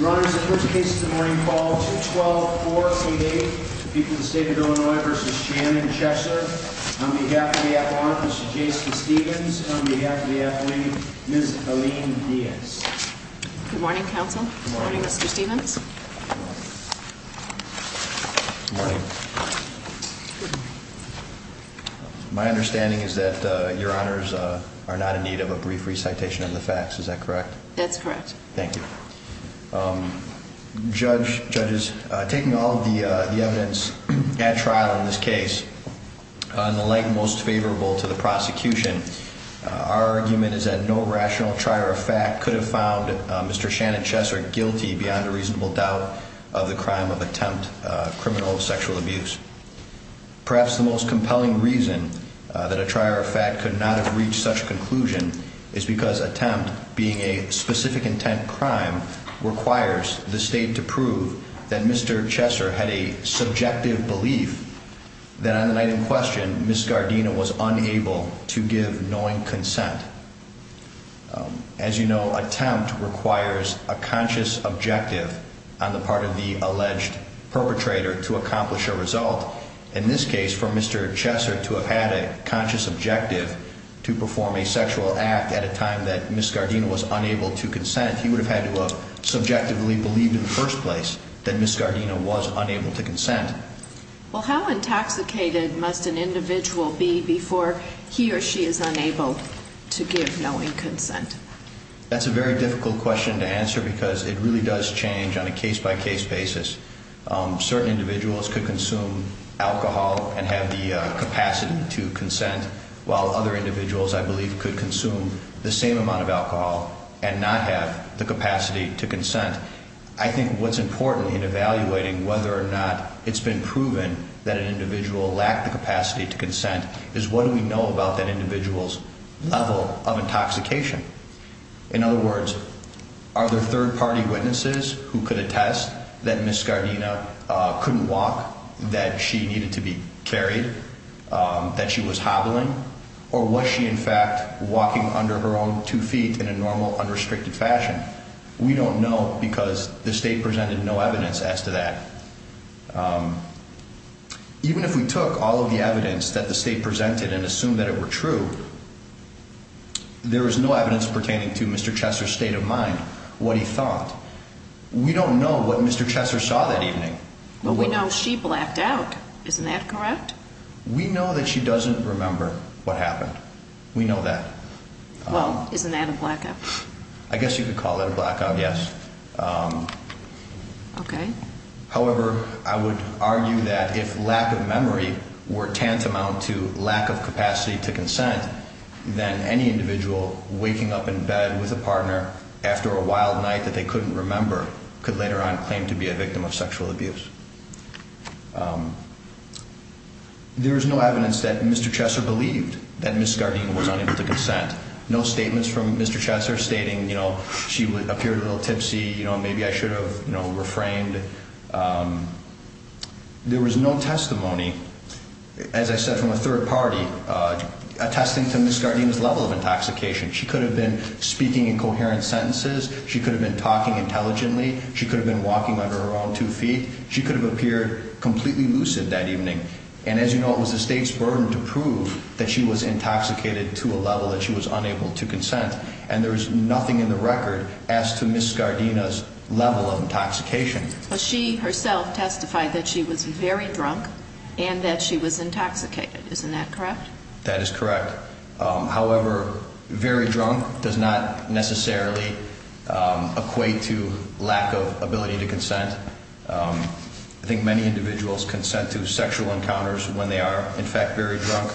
Your Honor, this is the first case of the morning called 2-12-4-P-8 between the State of Illinois v. Shannon v. Cheser On behalf of the Appellant, Mr. Jason Stevens and on behalf of the Athlete, Ms. Helene Diaz Good morning, Counsel Good morning, Mr. Stevens Good morning My understanding is that Your Honors are not in need of a brief recitation of the facts, is that correct? That's correct Thank you Judge, Judges, taking all of the evidence at trial in this case on the leg most favorable to the prosecution our argument is that no rational trier of fact could have found Mr. Shannon Cheser guilty beyond a reasonable doubt of the crime of attempt criminal sexual abuse Perhaps the most compelling reason that a trier of fact could not have reached such a conclusion is because attempt being a specific intent crime requires the State to prove that Mr. Cheser had a subjective belief that on the night in question, Ms. Gardena was unable to give knowing consent As you know, attempt requires a conscious objective on the part of the alleged perpetrator to accomplish a result In this case, for Mr. Cheser to have had a conscious objective to perform a sexual act at a time that Ms. Gardena was unable to consent he would have had to have subjectively believed in the first place that Ms. Gardena was unable to consent Well, how intoxicated must an individual be before he or she is unable to give knowing consent? That's a very difficult question to answer because it really does change on a case-by-case basis Certain individuals could consume alcohol and have the capacity to consent while other individuals, I believe, could consume the same amount of alcohol and not have the capacity to consent I think what's important in evaluating whether or not it's been proven that an individual lacked the capacity to consent is what do we know about that individual's level of intoxication? In other words, are there third-party witnesses who could attest that Ms. Gardena couldn't walk, that she needed to be carried, that she was hobbling or was she, in fact, walking under her own two feet in a normal, unrestricted fashion? We don't know because the State presented no evidence as to that Even if we took all of the evidence that the State presented and assumed that it were true there was no evidence pertaining to Mr. Cheser's state of mind, what he thought We don't know what Mr. Cheser saw that evening But we know she blacked out. Isn't that correct? We know that she doesn't remember what happened. We know that Well, isn't that a blackout? I guess you could call that a blackout, yes Okay However, I would argue that if lack of memory were tantamount to lack of capacity to consent then any individual waking up in bed with a partner after a wild night that they couldn't remember could later on claim to be a victim of sexual abuse There is no evidence that Mr. Cheser believed that Ms. Gardena was unable to consent No statements from Mr. Cheser stating she appeared a little tipsy, maybe I should have refrained There was no testimony, as I said from a third party, attesting to Ms. Gardena's level of intoxication She could have been speaking in coherent sentences, she could have been talking intelligently She could have been walking under her own two feet She could have appeared completely lucid that evening And as you know, it was the State's burden to prove that she was intoxicated to a level that she was unable to consent And there is nothing in the record as to Ms. Gardena's level of intoxication She herself testified that she was very drunk and that she was intoxicated, isn't that correct? That is correct However, very drunk does not necessarily equate to lack of ability to consent I think many individuals consent to sexual encounters when they are in fact very drunk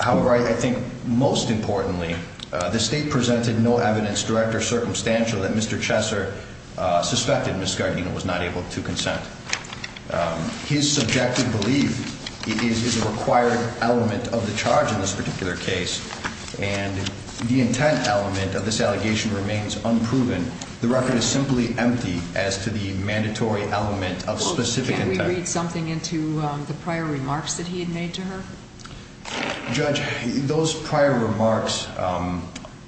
However, I think most importantly, the State presented no evidence, direct or circumstantial, that Mr. Cheser suspected Ms. Gardena was not able to consent His subjective belief is a required element of the charge in this particular case And the intent element of this allegation remains unproven The record is simply empty as to the mandatory element of specific intent Could you read something into the prior remarks that he had made to her? Judge, those prior remarks,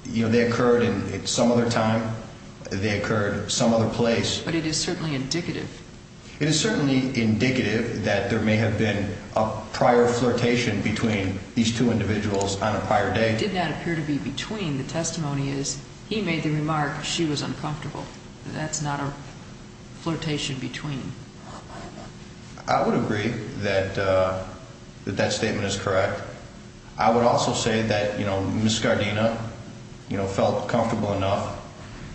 you know, they occurred at some other time, they occurred at some other place But it is certainly indicative It is certainly indicative that there may have been a prior flirtation between these two individuals on a prior date It did not appear to be between The testimony is, he made the remark she was uncomfortable That is not a flirtation between I would agree that that statement is correct I would also say that Ms. Gardena felt comfortable enough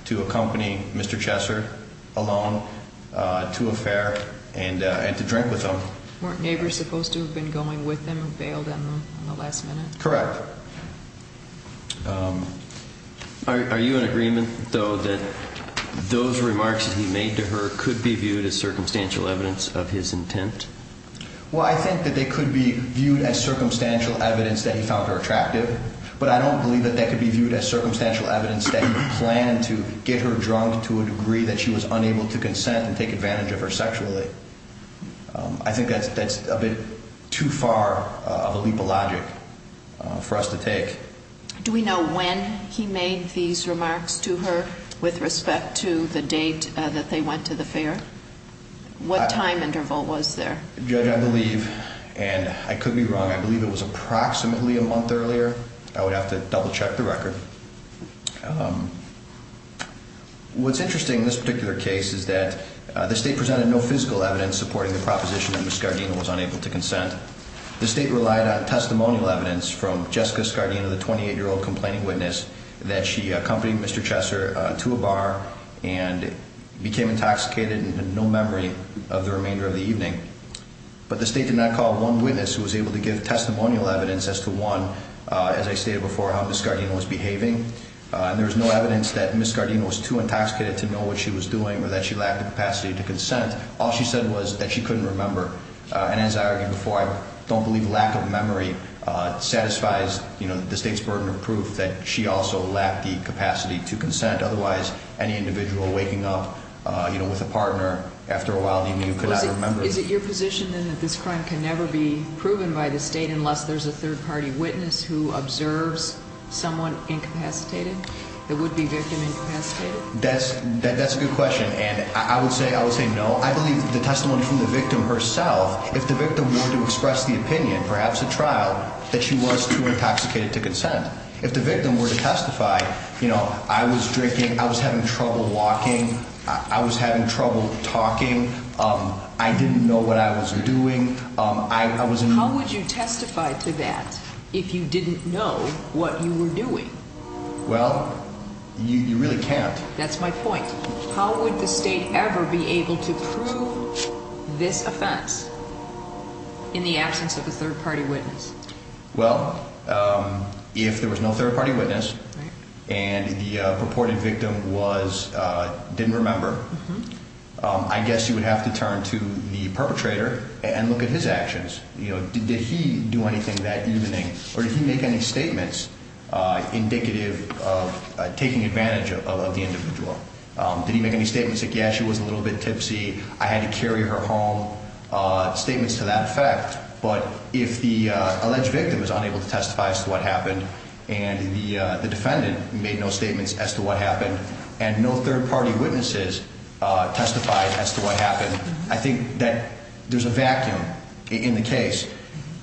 to accompany Mr. Cheser alone to a fair and to drink with him Weren't neighbors supposed to have been going with him and bailed on them at the last minute? Correct Are you in agreement, though, that those remarks that he made to her could be viewed as circumstantial evidence of his intent? Well, I think that they could be viewed as circumstantial evidence that he found her attractive But I don't believe that they could be viewed as circumstantial evidence that he planned to get her drunk to a degree that she was unable to consent and take advantage of her sexually I think that is a bit too far of a leap of logic for us to take Do we know when he made these remarks to her with respect to the date that they went to the fair? What time interval was there? Judge, I believe, and I could be wrong, I believe it was approximately a month earlier I would have to double check the record What's interesting in this particular case is that the State presented no physical evidence supporting the proposition that Ms. Gardena was unable to consent The State relied on testimonial evidence from Jessica Gardena, the 28-year-old complaining witness, that she accompanied Mr. Cheser to a bar and became intoxicated and had no memory of the remainder of the evening But the State did not call one witness who was able to give testimonial evidence as to, one, as I stated before, how Ms. Gardena was behaving There was no evidence that Ms. Gardena was too intoxicated to know what she was doing or that she lacked the capacity to consent All she said was that she couldn't remember And as I argued before, I don't believe lack of memory satisfies the State's burden of proof that she also lacked the capacity to consent Otherwise, any individual waking up with a partner after a while, even you could not remember Is it your position then that this crime can never be proven by the State unless there's a third-party witness who observes someone incapacitated, that would be victim incapacitated? That's a good question, and I would say no I believe the testimony from the victim herself, if the victim were to express the opinion, perhaps at trial, that she was too intoxicated to consent If the victim were to testify, you know, I was drinking, I was having trouble walking, I was having trouble talking, I didn't know what I was doing, I was in... How would you testify to that if you didn't know what you were doing? Well, you really can't That's my point How would the State ever be able to prove this offense in the absence of a third-party witness? Well, if there was no third-party witness and the purported victim didn't remember, I guess you would have to turn to the perpetrator and look at his actions Did he do anything that evening, or did he make any statements indicative of taking advantage of the individual? Did he make any statements like, yeah, she was a little bit tipsy, I had to carry her home, statements to that effect But if the alleged victim is unable to testify as to what happened, and the defendant made no statements as to what happened, and no third-party witnesses testified as to what happened I think that there's a vacuum in the case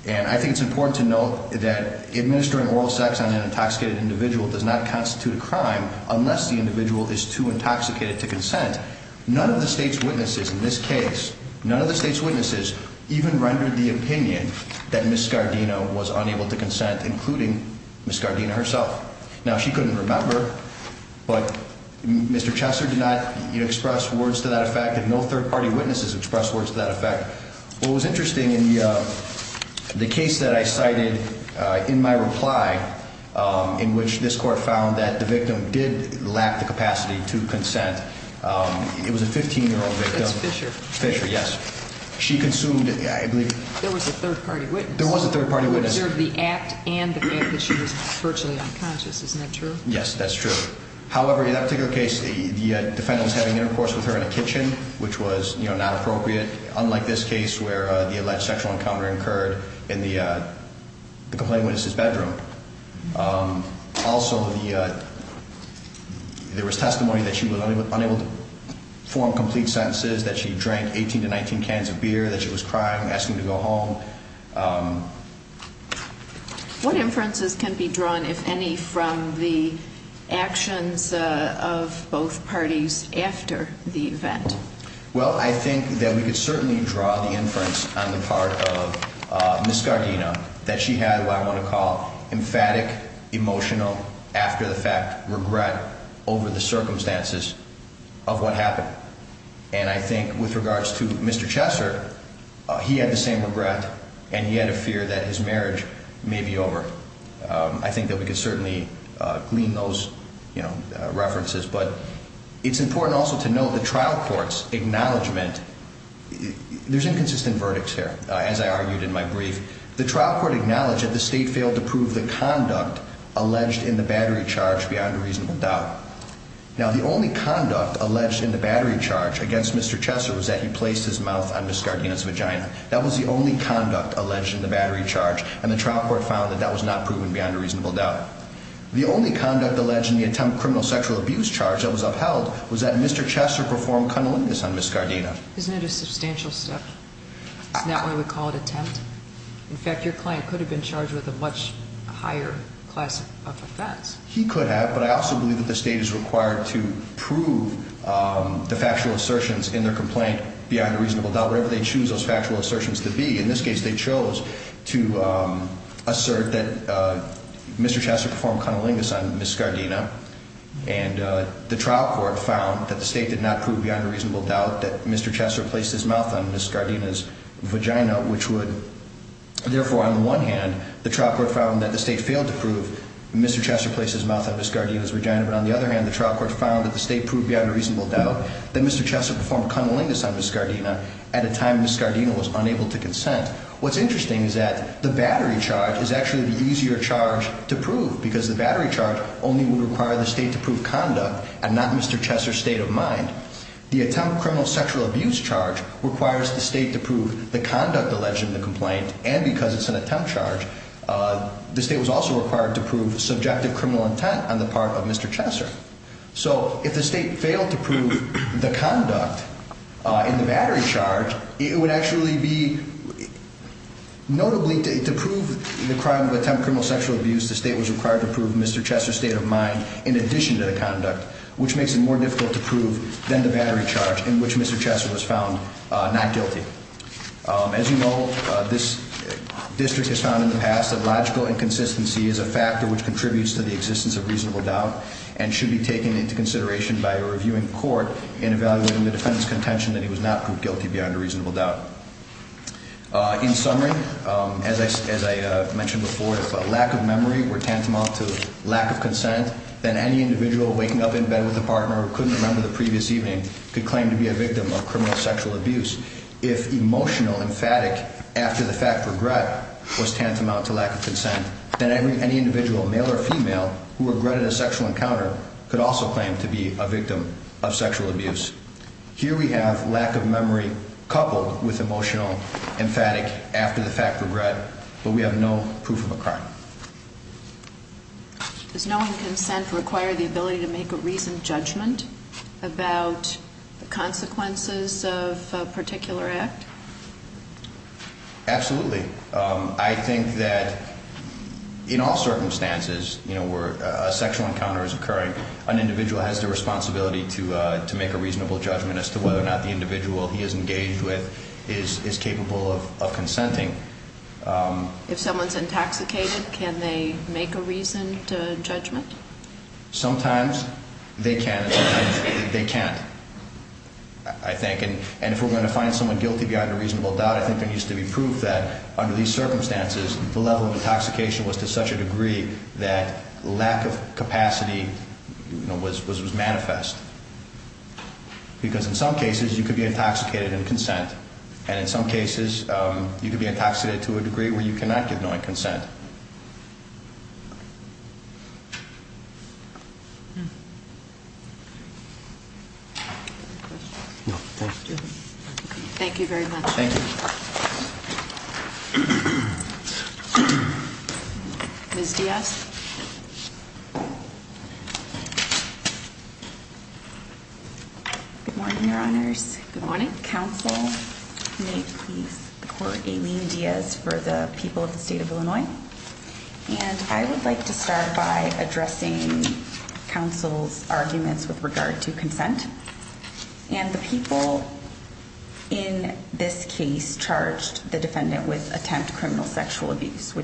And I think it's important to note that administering oral sex on an intoxicated individual does not constitute a crime unless the individual is too intoxicated to consent None of the State's witnesses in this case, none of the State's witnesses even rendered the opinion that Ms. Scardino was unable to consent, including Ms. Scardino herself Now, she couldn't remember, but Mr. Chesser did not express words to that effect, and no third-party witnesses expressed words to that effect What was interesting in the case that I cited in my reply, in which this Court found that the victim did lack the capacity to consent, it was a 15-year-old victim That's Fisher Fisher, yes She consumed, I believe There was a third-party witness There was a third-party witness Who observed the act and the fact that she was virtually unconscious, isn't that true? Yes, that's true However, in that particular case, the defendant was having intercourse with her in a kitchen, which was not appropriate, unlike this case where the alleged sexual encounter occurred in the complainant's bedroom Also, there was testimony that she was unable to form complete sentences, that she drank 18 to 19 cans of beer, that she was crying, asking to go home What inferences can be drawn, if any, from the actions of both parties after the event? Well, I think that we could certainly draw the inference on the part of Ms. Scardino, that she had what I want to call emphatic, emotional, after-the-fact regret over the circumstances of what happened And I think, with regards to Mr. Chesser, he had the same regret, and he had a fear that his marriage may be over I think that we could certainly glean those references But it's important also to note the trial court's acknowledgment There's inconsistent verdicts here, as I argued in my brief The trial court acknowledged that the State failed to prove the conduct alleged in the battery charge beyond a reasonable doubt Now, the only conduct alleged in the battery charge against Mr. Chesser was that he placed his mouth on Ms. Scardino's vagina That was the only conduct alleged in the battery charge, and the trial court found that that was not proven beyond a reasonable doubt The only conduct alleged in the attempt criminal sexual abuse charge that was upheld was that Mr. Chesser performed cunnilingus on Ms. Scardino Isn't it a substantial step? Isn't that why we call it attempt? In fact, your client could have been charged with a much higher class of offense He could have, but I also believe that the State is required to prove the factual assertions in their complaint beyond a reasonable doubt Whatever they choose those factual assertions to be In this case, they chose to assert that Mr. Chesser performed cunnilingus on Ms. Scardino And the trial court found that the State did not prove beyond a reasonable doubt that Mr. Chesser placed his mouth on Ms. Scardino's vagina Therefore, on the one hand, the trial court found that the State failed to prove that Mr. Chesser placed his mouth on Ms. Scardino's vagina But on the other hand, the trial court found that the State proved beyond a reasonable doubt that Mr. Chesser performed cunnilingus on Ms. Scardino At a time when Ms. Scardino was unable to consent What's interesting is that the battery charge is actually the easier charge to prove Because the battery charge only would require the State to prove conduct and not Mr. Chesser's state of mind The attempt criminal sexual abuse charge requires the State to prove the conduct alleged in the complaint And because it's an attempt charge, the State was also required to prove subjective criminal intent on the part of Mr. Chesser So if the State failed to prove the conduct in the battery charge, it would actually be Notably, to prove the crime of attempt criminal sexual abuse, the State was required to prove Mr. Chesser's state of mind In addition to the conduct, which makes it more difficult to prove than the battery charge in which Mr. Chesser was found not guilty As you know, this district has found in the past that logical inconsistency is a factor which contributes to the existence of reasonable doubt And should be taken into consideration by a reviewing court in evaluating the defendant's contention that he was not proved guilty beyond a reasonable doubt In summary, as I mentioned before, if lack of memory were tantamount to lack of consent Then any individual waking up in bed with a partner who couldn't remember the previous evening could claim to be a victim of criminal sexual abuse If emotional emphatic after the fact regret was tantamount to lack of consent Then any individual, male or female, who regretted a sexual encounter could also claim to be a victim of sexual abuse Here we have lack of memory coupled with emotional emphatic after the fact regret, but we have no proof of a crime Does knowing consent require the ability to make a reasoned judgment about the consequences of a particular act? Absolutely. I think that in all circumstances, you know, where a sexual encounter is occurring An individual has the responsibility to make a reasonable judgment as to whether or not the individual he is engaged with is capable of consenting If someone's intoxicated, can they make a reasoned judgment? Sometimes they can, sometimes they can't, I think And if we're going to find someone guilty beyond a reasonable doubt, I think there needs to be proof that under these circumstances the level of intoxication was to such a degree that lack of capacity was manifest Because in some cases you could be intoxicated in consent, and in some cases you could be intoxicated to a degree where you cannot give knowing consent Thank you very much Ms. Diaz Good morning I would like to start by addressing counsel's arguments with regard to consent And the people in this case charged the defendant with attempt criminal sexual abuse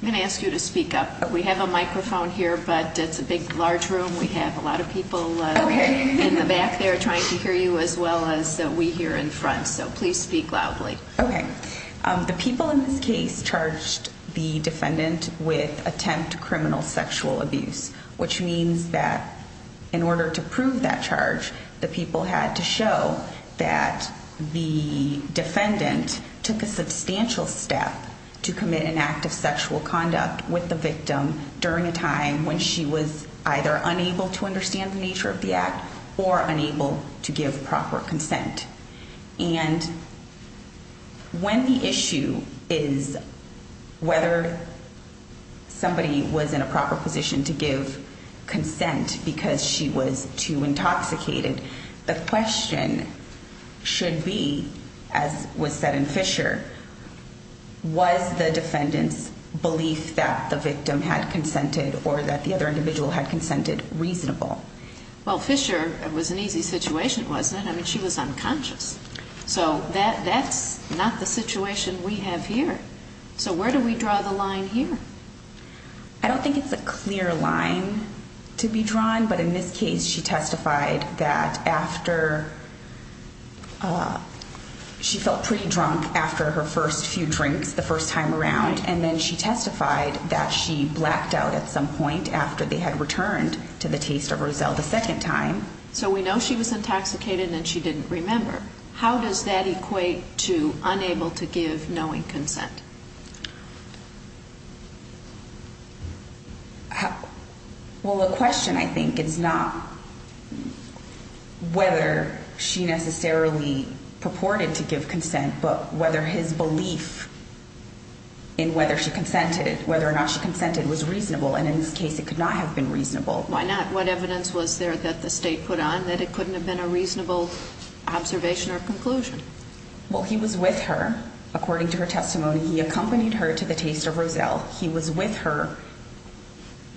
I'm going to ask you to speak up. We have a microphone here, but it's a big, large room We have a lot of people in the back there trying to hear you as well as we here in front, so please speak loudly Okay. The people in this case charged the defendant with attempt criminal sexual abuse Which means that in order to prove that charge, the people had to show that the defendant took a substantial step to commit an act of sexual conduct with the victim during a time when she was either unable to understand the nature of the act or unable to give proper consent And when the issue is whether somebody was in a proper position to give consent because she was too intoxicated The question should be, as was said in Fisher, was the defendant's belief that the victim had consented or that the other individual had consented reasonable Well, Fisher, it was an easy situation, wasn't it? I mean, she was unconscious So that's not the situation we have here. So where do we draw the line here? I don't think it's a clear line to be drawn, but in this case she testified that after she felt pretty drunk after her first few drinks the first time around and then she testified that she blacked out at some point after they had returned to the taste of Roselle the second time So we know she was intoxicated and she didn't remember. How does that equate to unable to give knowing consent? Well, the question, I think, is not whether she necessarily purported to give consent but whether his belief in whether or not she consented was reasonable Why not? What evidence was there that the state put on that it couldn't have been a reasonable observation or conclusion? Well, he was with her. According to her testimony, he accompanied her to the taste of Roselle He was with her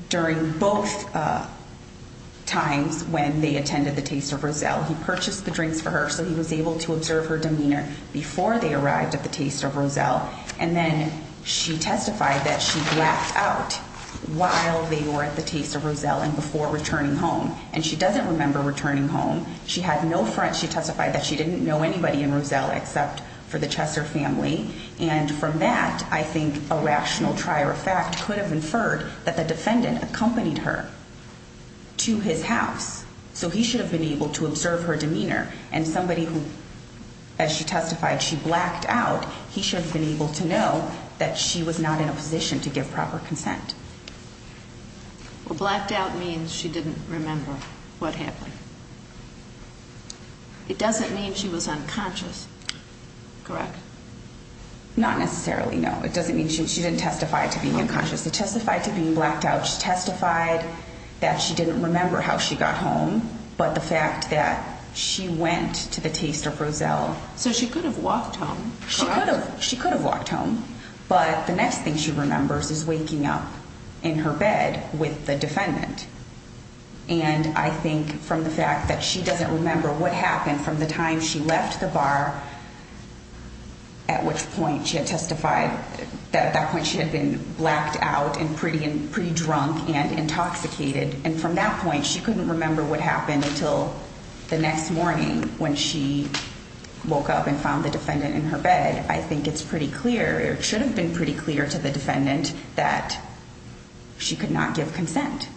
during both times when they attended the taste of Roselle He purchased the drinks for her so he was able to observe her demeanor before they arrived at the taste of Roselle And then she testified that she blacked out while they were at the taste of Roselle and before returning home And she doesn't remember returning home. She testified that she didn't know anybody in Roselle except for the Chesser family And from that, I think a rational trier of fact could have inferred that the defendant accompanied her to his house So he should have been able to observe her demeanor and somebody who, as she testified, she blacked out He should have been able to know that she was not in a position to give proper consent Well, blacked out means she didn't remember what happened It doesn't mean she was unconscious, correct? Not necessarily, no. It doesn't mean she didn't testify to being unconscious She testified to being blacked out. She testified that she didn't remember how she got home But the fact that she went to the taste of Roselle So she could have walked home, correct? She could have walked home, but the next thing she remembers is waking up in her bed with the defendant And I think from the fact that she doesn't remember what happened from the time she left the bar At which point she had testified that at that point she had been blacked out and pretty drunk and intoxicated And from that point, she couldn't remember what happened until the next morning When she woke up and found the defendant in her bed I think it's pretty clear, or it should have been pretty clear to the defendant that she could not give consent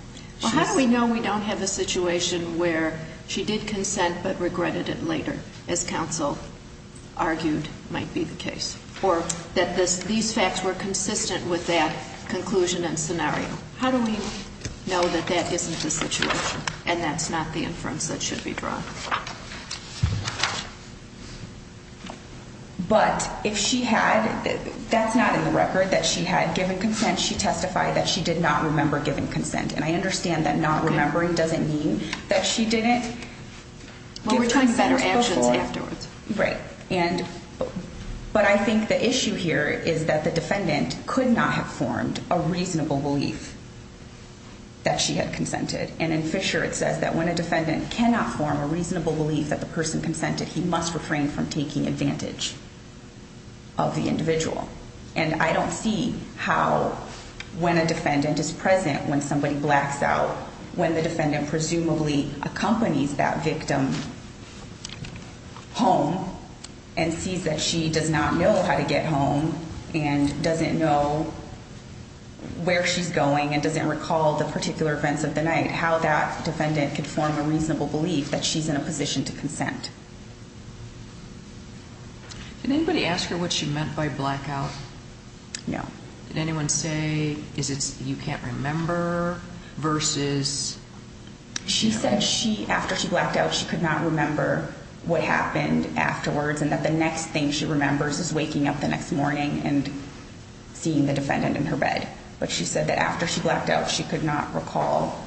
Well, how do we know we don't have a situation where she did consent but regretted it later As counsel argued might be the case Or that these facts were consistent with that conclusion and scenario How do we know that that isn't the situation and that's not the inference that should be drawn? But if she had, that's not in the record that she had given consent She testified that she did not remember giving consent And I understand that not remembering doesn't mean that she didn't give consent Well, we're talking about her actions afterwards Right, but I think the issue here is that the defendant could not have formed a reasonable belief that she had consented And in Fisher it says that when a defendant cannot form a reasonable belief that the person consented He must refrain from taking advantage of the individual And I don't see how when a defendant is present when somebody blacks out When the defendant presumably accompanies that victim home And sees that she does not know how to get home And doesn't know where she's going and doesn't recall the particular events of the night How that defendant could form a reasonable belief that she's in a position to consent Did anybody ask her what she meant by blackout? No Did anyone say, is it you can't remember versus She said she, after she blacked out she could not remember what happened afterwards And that the next thing she remembers is waking up the next morning and seeing the defendant in her bed But she said that after she blacked out she could not recall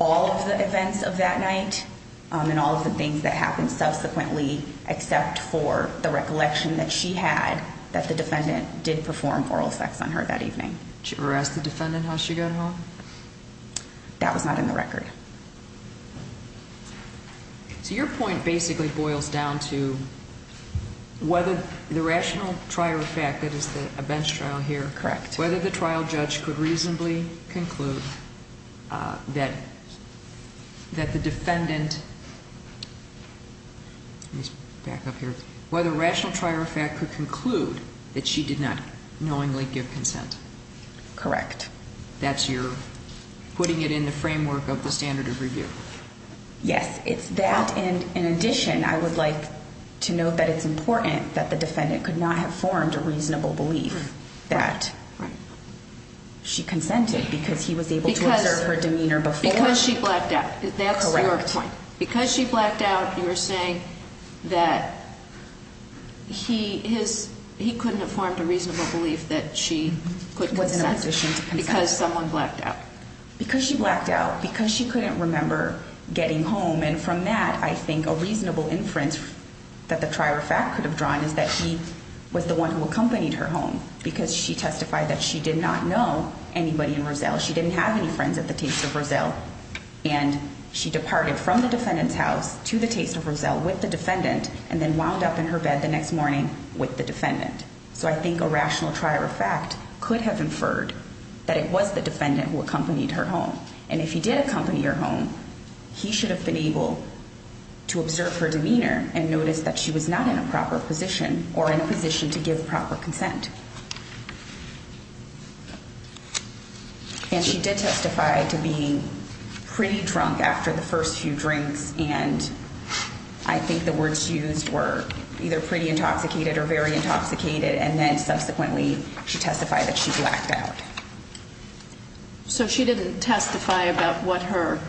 all of the events of that night And all of the things that happened subsequently except for the recollection that she had That the defendant did perform oral sex on her that evening Did you ever ask the defendant how she got home? That was not in the record So your point basically boils down to whether the rational trier of fact, that is a bench trial here Correct Whether the trial judge could reasonably conclude that the defendant Let me back up here Whether rational trier of fact could conclude that she did not knowingly give consent Correct That's your, putting it in the framework of the standard of review Yes, it's that and in addition I would like to note that it's important that the defendant could not have formed a reasonable belief That she consented because he was able to observe her demeanor before Because she blacked out, that's your point Because she blacked out you're saying that he couldn't have formed a reasonable belief that she could consent Because someone blacked out Because she blacked out, because she couldn't remember getting home And from that I think a reasonable inference that the trier of fact could have drawn is that he was the one who accompanied her home Because she testified that she did not know anybody in Roselle She didn't have any friends at the taste of Roselle And she departed from the defendant's house to the taste of Roselle with the defendant And then wound up in her bed the next morning with the defendant So I think a rational trier of fact could have inferred that it was the defendant who accompanied her home And if he did accompany her home he should have been able to observe her demeanor And notice that she was not in a proper position or in a position to give proper consent And she did testify to being pretty drunk after the first few drinks And I think the words used were either pretty intoxicated or very intoxicated And then subsequently she testified that she blacked out So she didn't testify about what her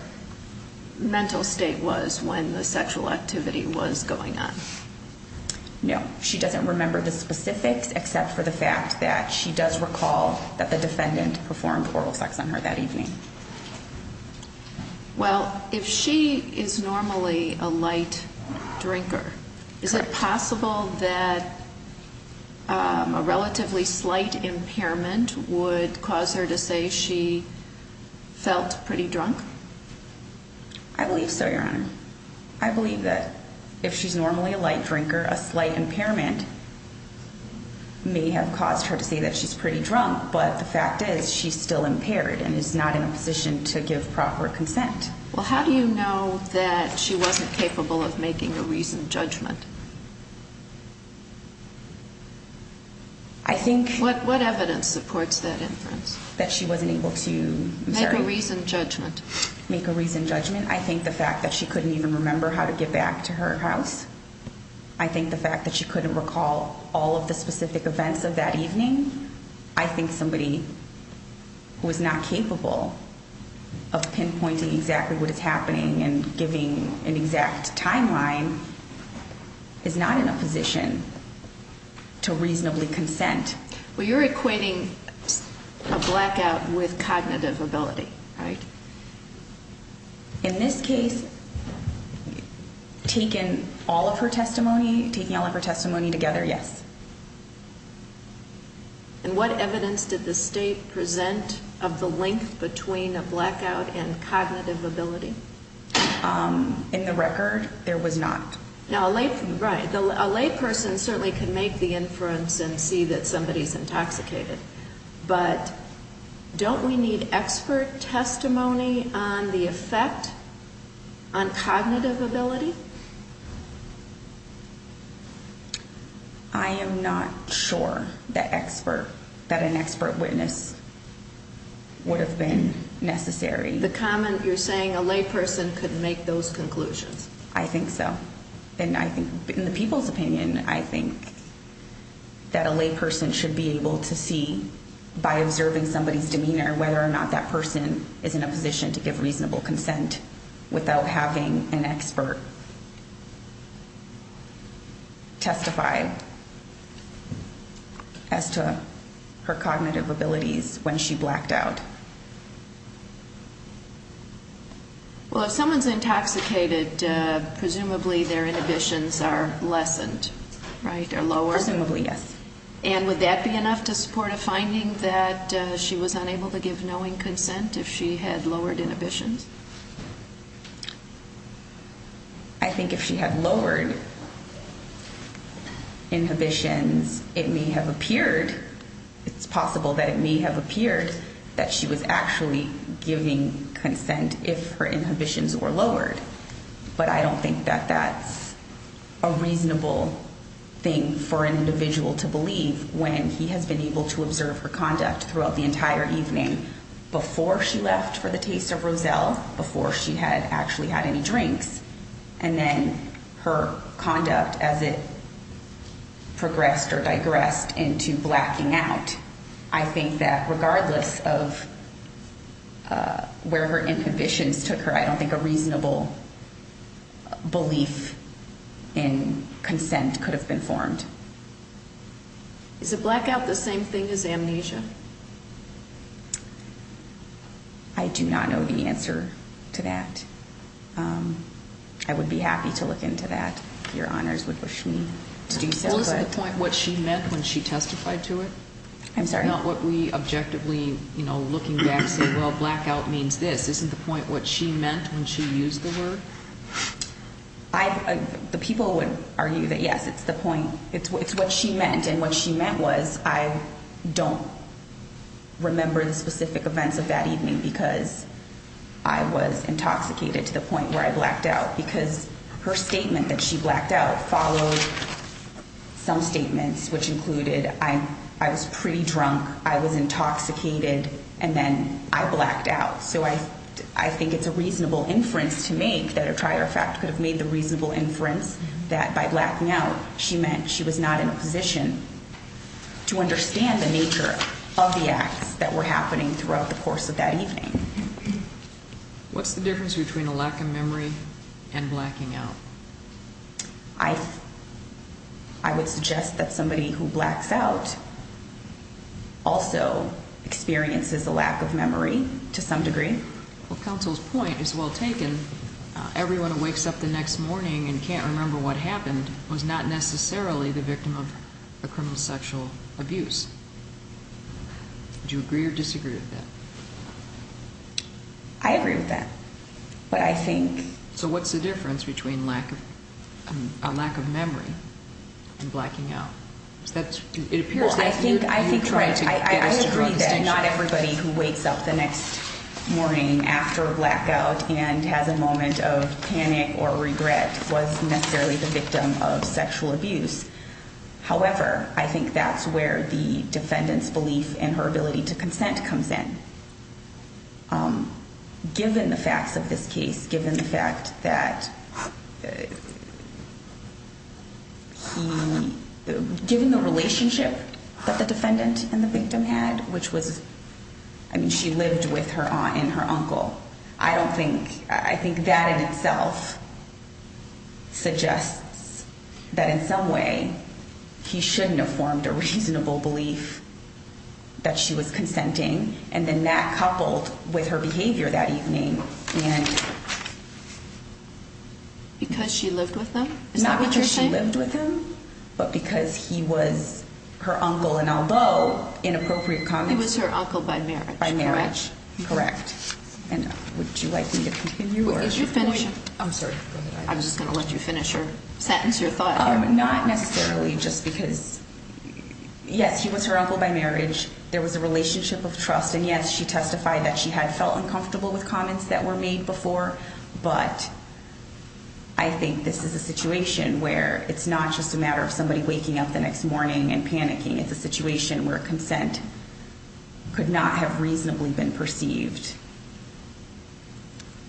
mental state was when the sexual activity was going on No, she doesn't remember the specifics except for the fact that she does recall that the defendant performed oral sex on her that evening Well, if she is normally a light drinker Is it possible that a relatively slight impairment would cause her to say she felt pretty drunk? I believe so, your honor I believe that if she's normally a light drinker a slight impairment may have caused her to say that she's pretty drunk But the fact is she's still impaired and is not in a position to give proper consent Well, how do you know that she wasn't capable of making a reasoned judgment? I think What evidence supports that inference? That she wasn't able to, I'm sorry Make a reasoned judgment Make a reasoned judgment I think the fact that she couldn't even remember how to get back to her house I think the fact that she couldn't recall all of the specific events of that evening I think somebody who is not capable of pinpointing exactly what is happening and giving an exact timeline Is not in a position to reasonably consent Well, you're equating a blackout with cognitive ability, right? In this case, taking all of her testimony, taking all of her testimony together, yes And what evidence did the state present of the link between a blackout and cognitive ability? In the record, there was not Right, a layperson certainly can make the inference and see that somebody is intoxicated But don't we need expert testimony on the effect on cognitive ability? I am not sure that expert, that an expert witness would have been necessary The comment, you're saying a layperson could make those conclusions I think so And I think, in the people's opinion, I think that a layperson should be able to see By observing somebody's demeanor, whether or not that person is in a position to give reasonable consent Without having an expert testify as to her cognitive abilities when she blacked out Well, if someone is intoxicated, presumably their inhibitions are lessened, right? Presumably, yes And would that be enough to support a finding that she was unable to give knowing consent if she had lowered inhibitions? I think if she had lowered inhibitions, it may have appeared It's possible that it may have appeared that she was actually giving consent if her inhibitions were lowered But I don't think that that's a reasonable thing for an individual to believe When he has been able to observe her conduct throughout the entire evening Before she left for the taste of Roselle, before she had actually had any drinks And then her conduct as it progressed or digressed into blacking out I think that regardless of where her inhibitions took her I don't think a reasonable belief in consent could have been formed Is a blackout the same thing as amnesia? I do not know the answer to that I would be happy to look into that Your honors would wish me to do so Well, isn't the point what she meant when she testified to it? I'm sorry Not what we objectively, you know, looking back say, well, blackout means this Isn't the point what she meant when she used the word? The people would argue that, yes, it's the point It's what she meant And what she meant was, I don't remember the specific events of that evening Because I was intoxicated to the point where I blacked out Because her statement that she blacked out followed some statements Which included, I was pretty drunk, I was intoxicated, and then I blacked out So I think it's a reasonable inference to make That a trier of fact could have made the reasonable inference That by blacking out, she meant she was not in a position To understand the nature of the acts that were happening throughout the course of that evening What's the difference between a lack of memory and blacking out? I would suggest that somebody who blacks out Also experiences a lack of memory to some degree Well, counsel's point is well taken Everyone who wakes up the next morning and can't remember what happened Was not necessarily the victim of a criminal sexual abuse Do you agree or disagree with that? I agree with that But I think So what's the difference between a lack of memory and blacking out? It appears that you're trying to get us to draw a distinction I agree that not everybody who wakes up the next morning after blackout And has a moment of panic or regret Was necessarily the victim of sexual abuse However, I think that's where the defendant's belief And her ability to consent comes in Given the facts of this case, given the fact that Given the relationship that the defendant and the victim had Which was, I mean she lived with her aunt and her uncle I don't think, I think that in itself Suggests that in some way He shouldn't have formed a reasonable belief That she was consenting And then that coupled with her behavior that evening And Because she lived with them? Not because she lived with them But because he was her uncle And although inappropriate comment He was her uncle by marriage By marriage Correct And would you like me to continue? Is your finish? I'm sorry I'm just going to let you finish your sentence, your thought here Not necessarily just because Yes, he was her uncle by marriage There was a relationship of trust And yes, she testified that she had felt uncomfortable With comments that were made before But I think this is a situation where It's not just a matter of somebody waking up the next morning And panicking It's a situation where consent Could not have reasonably been perceived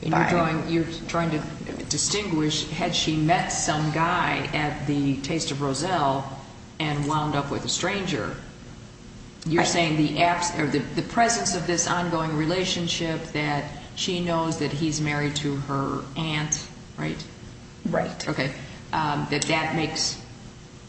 You're trying to distinguish Had she met some guy at the Taste of Roselle And wound up with a stranger You're saying the absence Or the presence of this ongoing relationship That she knows that he's married to her aunt Right? Right Okay That that makes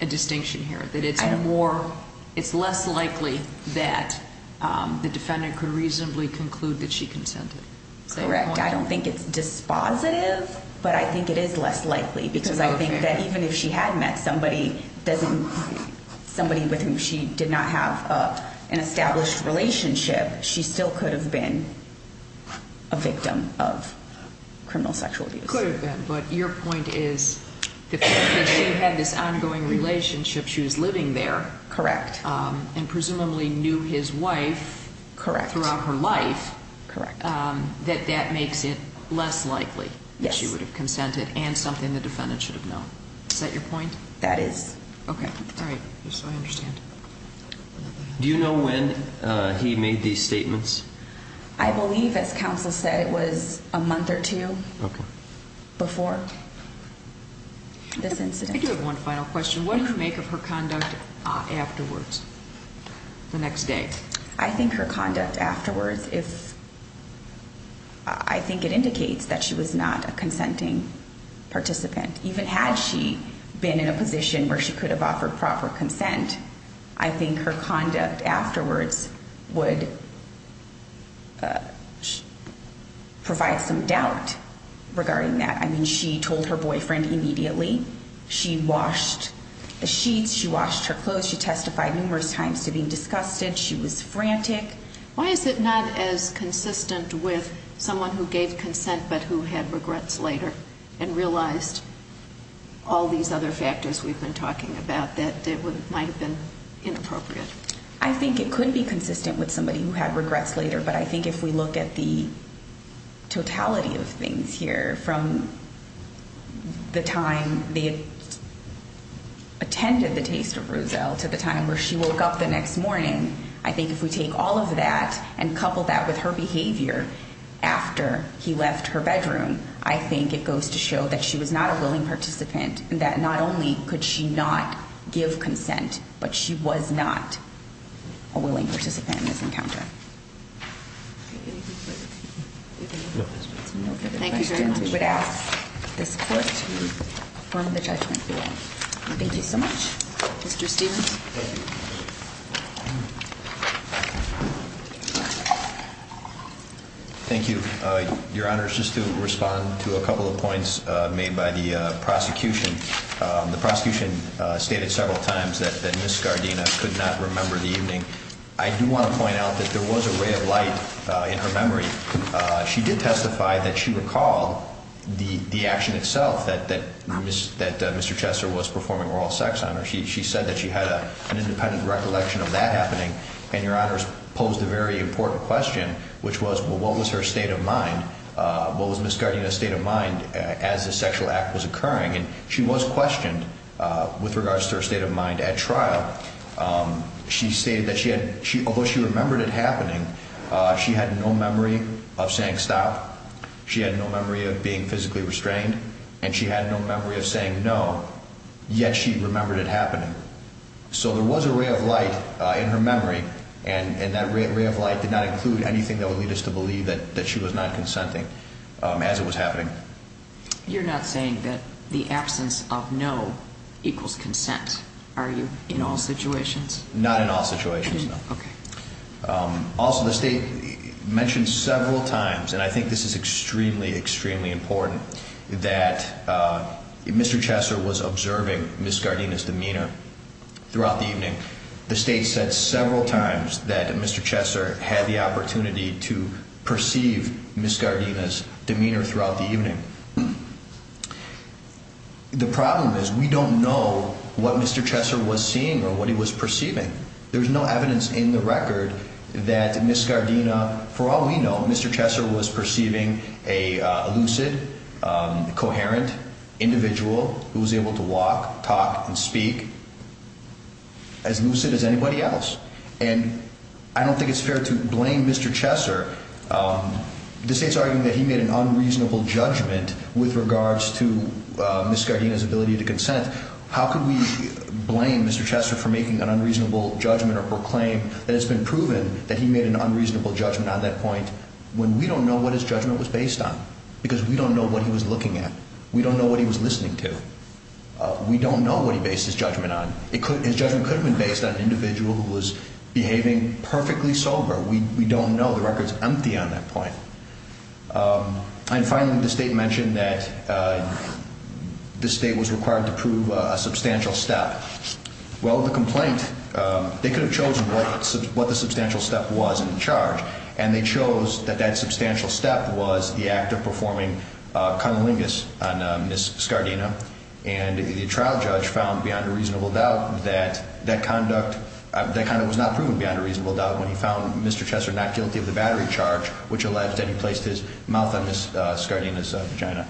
a distinction here That it's more It's less likely that The defendant could reasonably conclude that she consented Correct I don't think it's dispositive But I think it is less likely Because I think that even if she had met somebody Somebody with whom she did not have An established relationship She still could have been A victim of criminal sexual abuse Could have been But your point is The fact that she had this ongoing relationship She was living there Correct And presumably knew his wife Correct Throughout her life Correct That that makes it less likely Yes That she would have consented And something the defendant should have known Is that your point? That is Okay All right So I understand Do you know when he made these statements? I believe as counsel said It was a month or two Okay Before this incident I do have one final question What do you make of her conduct afterwards? The next day I think her conduct afterwards If I think it indicates that she was not a consenting participant Even had she been in a position Where she could have offered proper consent I think her conduct afterwards Would Provide some doubt Regarding that I mean she told her boyfriend immediately She washed the sheets She washed her clothes She testified numerous times to being disgusted She was frantic Why is it not as consistent With someone who gave consent But who had regrets later And realized All these other factors we've been talking about That it might have been inappropriate I think it could be consistent With somebody who had regrets later But I think if we look at the Totality of things here From The time They Attended the taste of Ruzel To the time where she woke up the next morning I think if we take all of that And couple that with her behavior After he left her bedroom I think it goes to show That she was not a willing participant But she was not A willing participant in this encounter Thank you very much We would ask this court to Perform the judgment Thank you so much Mr. Stevens Thank you Your Honor, just to respond to a couple of points Made by the prosecution The prosecution Stated several times that Ms. Scardina Could not remember the evening I do want to point out that there was a ray of light In her memory She did testify that she recalled The action itself That Mr. Chester was performing Oral sex on her She said that she had an independent recollection Of that happening And Your Honor posed a very important question Which was, what was her state of mind What was Ms. Scardina's state of mind As the sexual act was occurring And she was questioned With regards to her state of mind at trial She stated that she had Although she remembered it happening She had no memory of saying stop She had no memory of being physically restrained And she had no memory of saying no Yet she remembered it happening So there was a ray of light In her memory And that ray of light did not include Anything that would lead us to believe That she was not consenting As it was happening You're not saying that the absence of no Equals consent, are you In all situations Not in all situations, no Also the state Mentioned several times And I think this is extremely, extremely important That Mr. Chester was observing Ms. Scardina's demeanor Throughout the evening The state said several times that Mr. Chester Had the opportunity to Perceive Ms. Scardina's Demeanor throughout the evening The problem is We don't know what Mr. Chester Was seeing or what he was perceiving There's no evidence in the record That Ms. Scardina For all we know, Mr. Chester was perceiving A lucid Coherent individual Who was able to walk, talk And speak As lucid as anybody else And I don't think it's fair to blame Mr. Chester The state's arguing that he made an unreasonable Judgment with regards to Ms. Scardina's ability to consent How could we blame Mr. Chester for making an unreasonable judgment Or claim that it's been proven That he made an unreasonable judgment on that point When we don't know what his judgment was based on Because we don't know what he was looking at We don't know what he was listening to We don't know what he based his judgment on His judgment could have been based on An individual who was behaving Perfectly sober We don't know, the record's empty on that point And finally The state mentioned that The state was required to prove A substantial step Well, the complaint They could have chosen what the substantial step Was in the charge And they chose that that substantial step Was the act of performing Cunnilingus on Ms. Scardina And the trial judge Found beyond a reasonable doubt that That conduct Was not proven beyond a reasonable doubt When he found Mr. Chester not guilty of the battery charge Which alleged that he placed his mouth On Ms. Scardina's vagina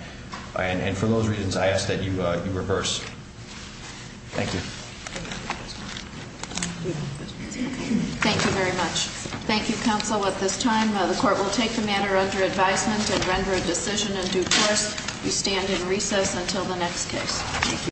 And for those reasons I ask that you Reverse Thank you Thank you very much Thank you counsel at this time The court will take the matter under advisement And render a decision in due course We stand in recess until the next case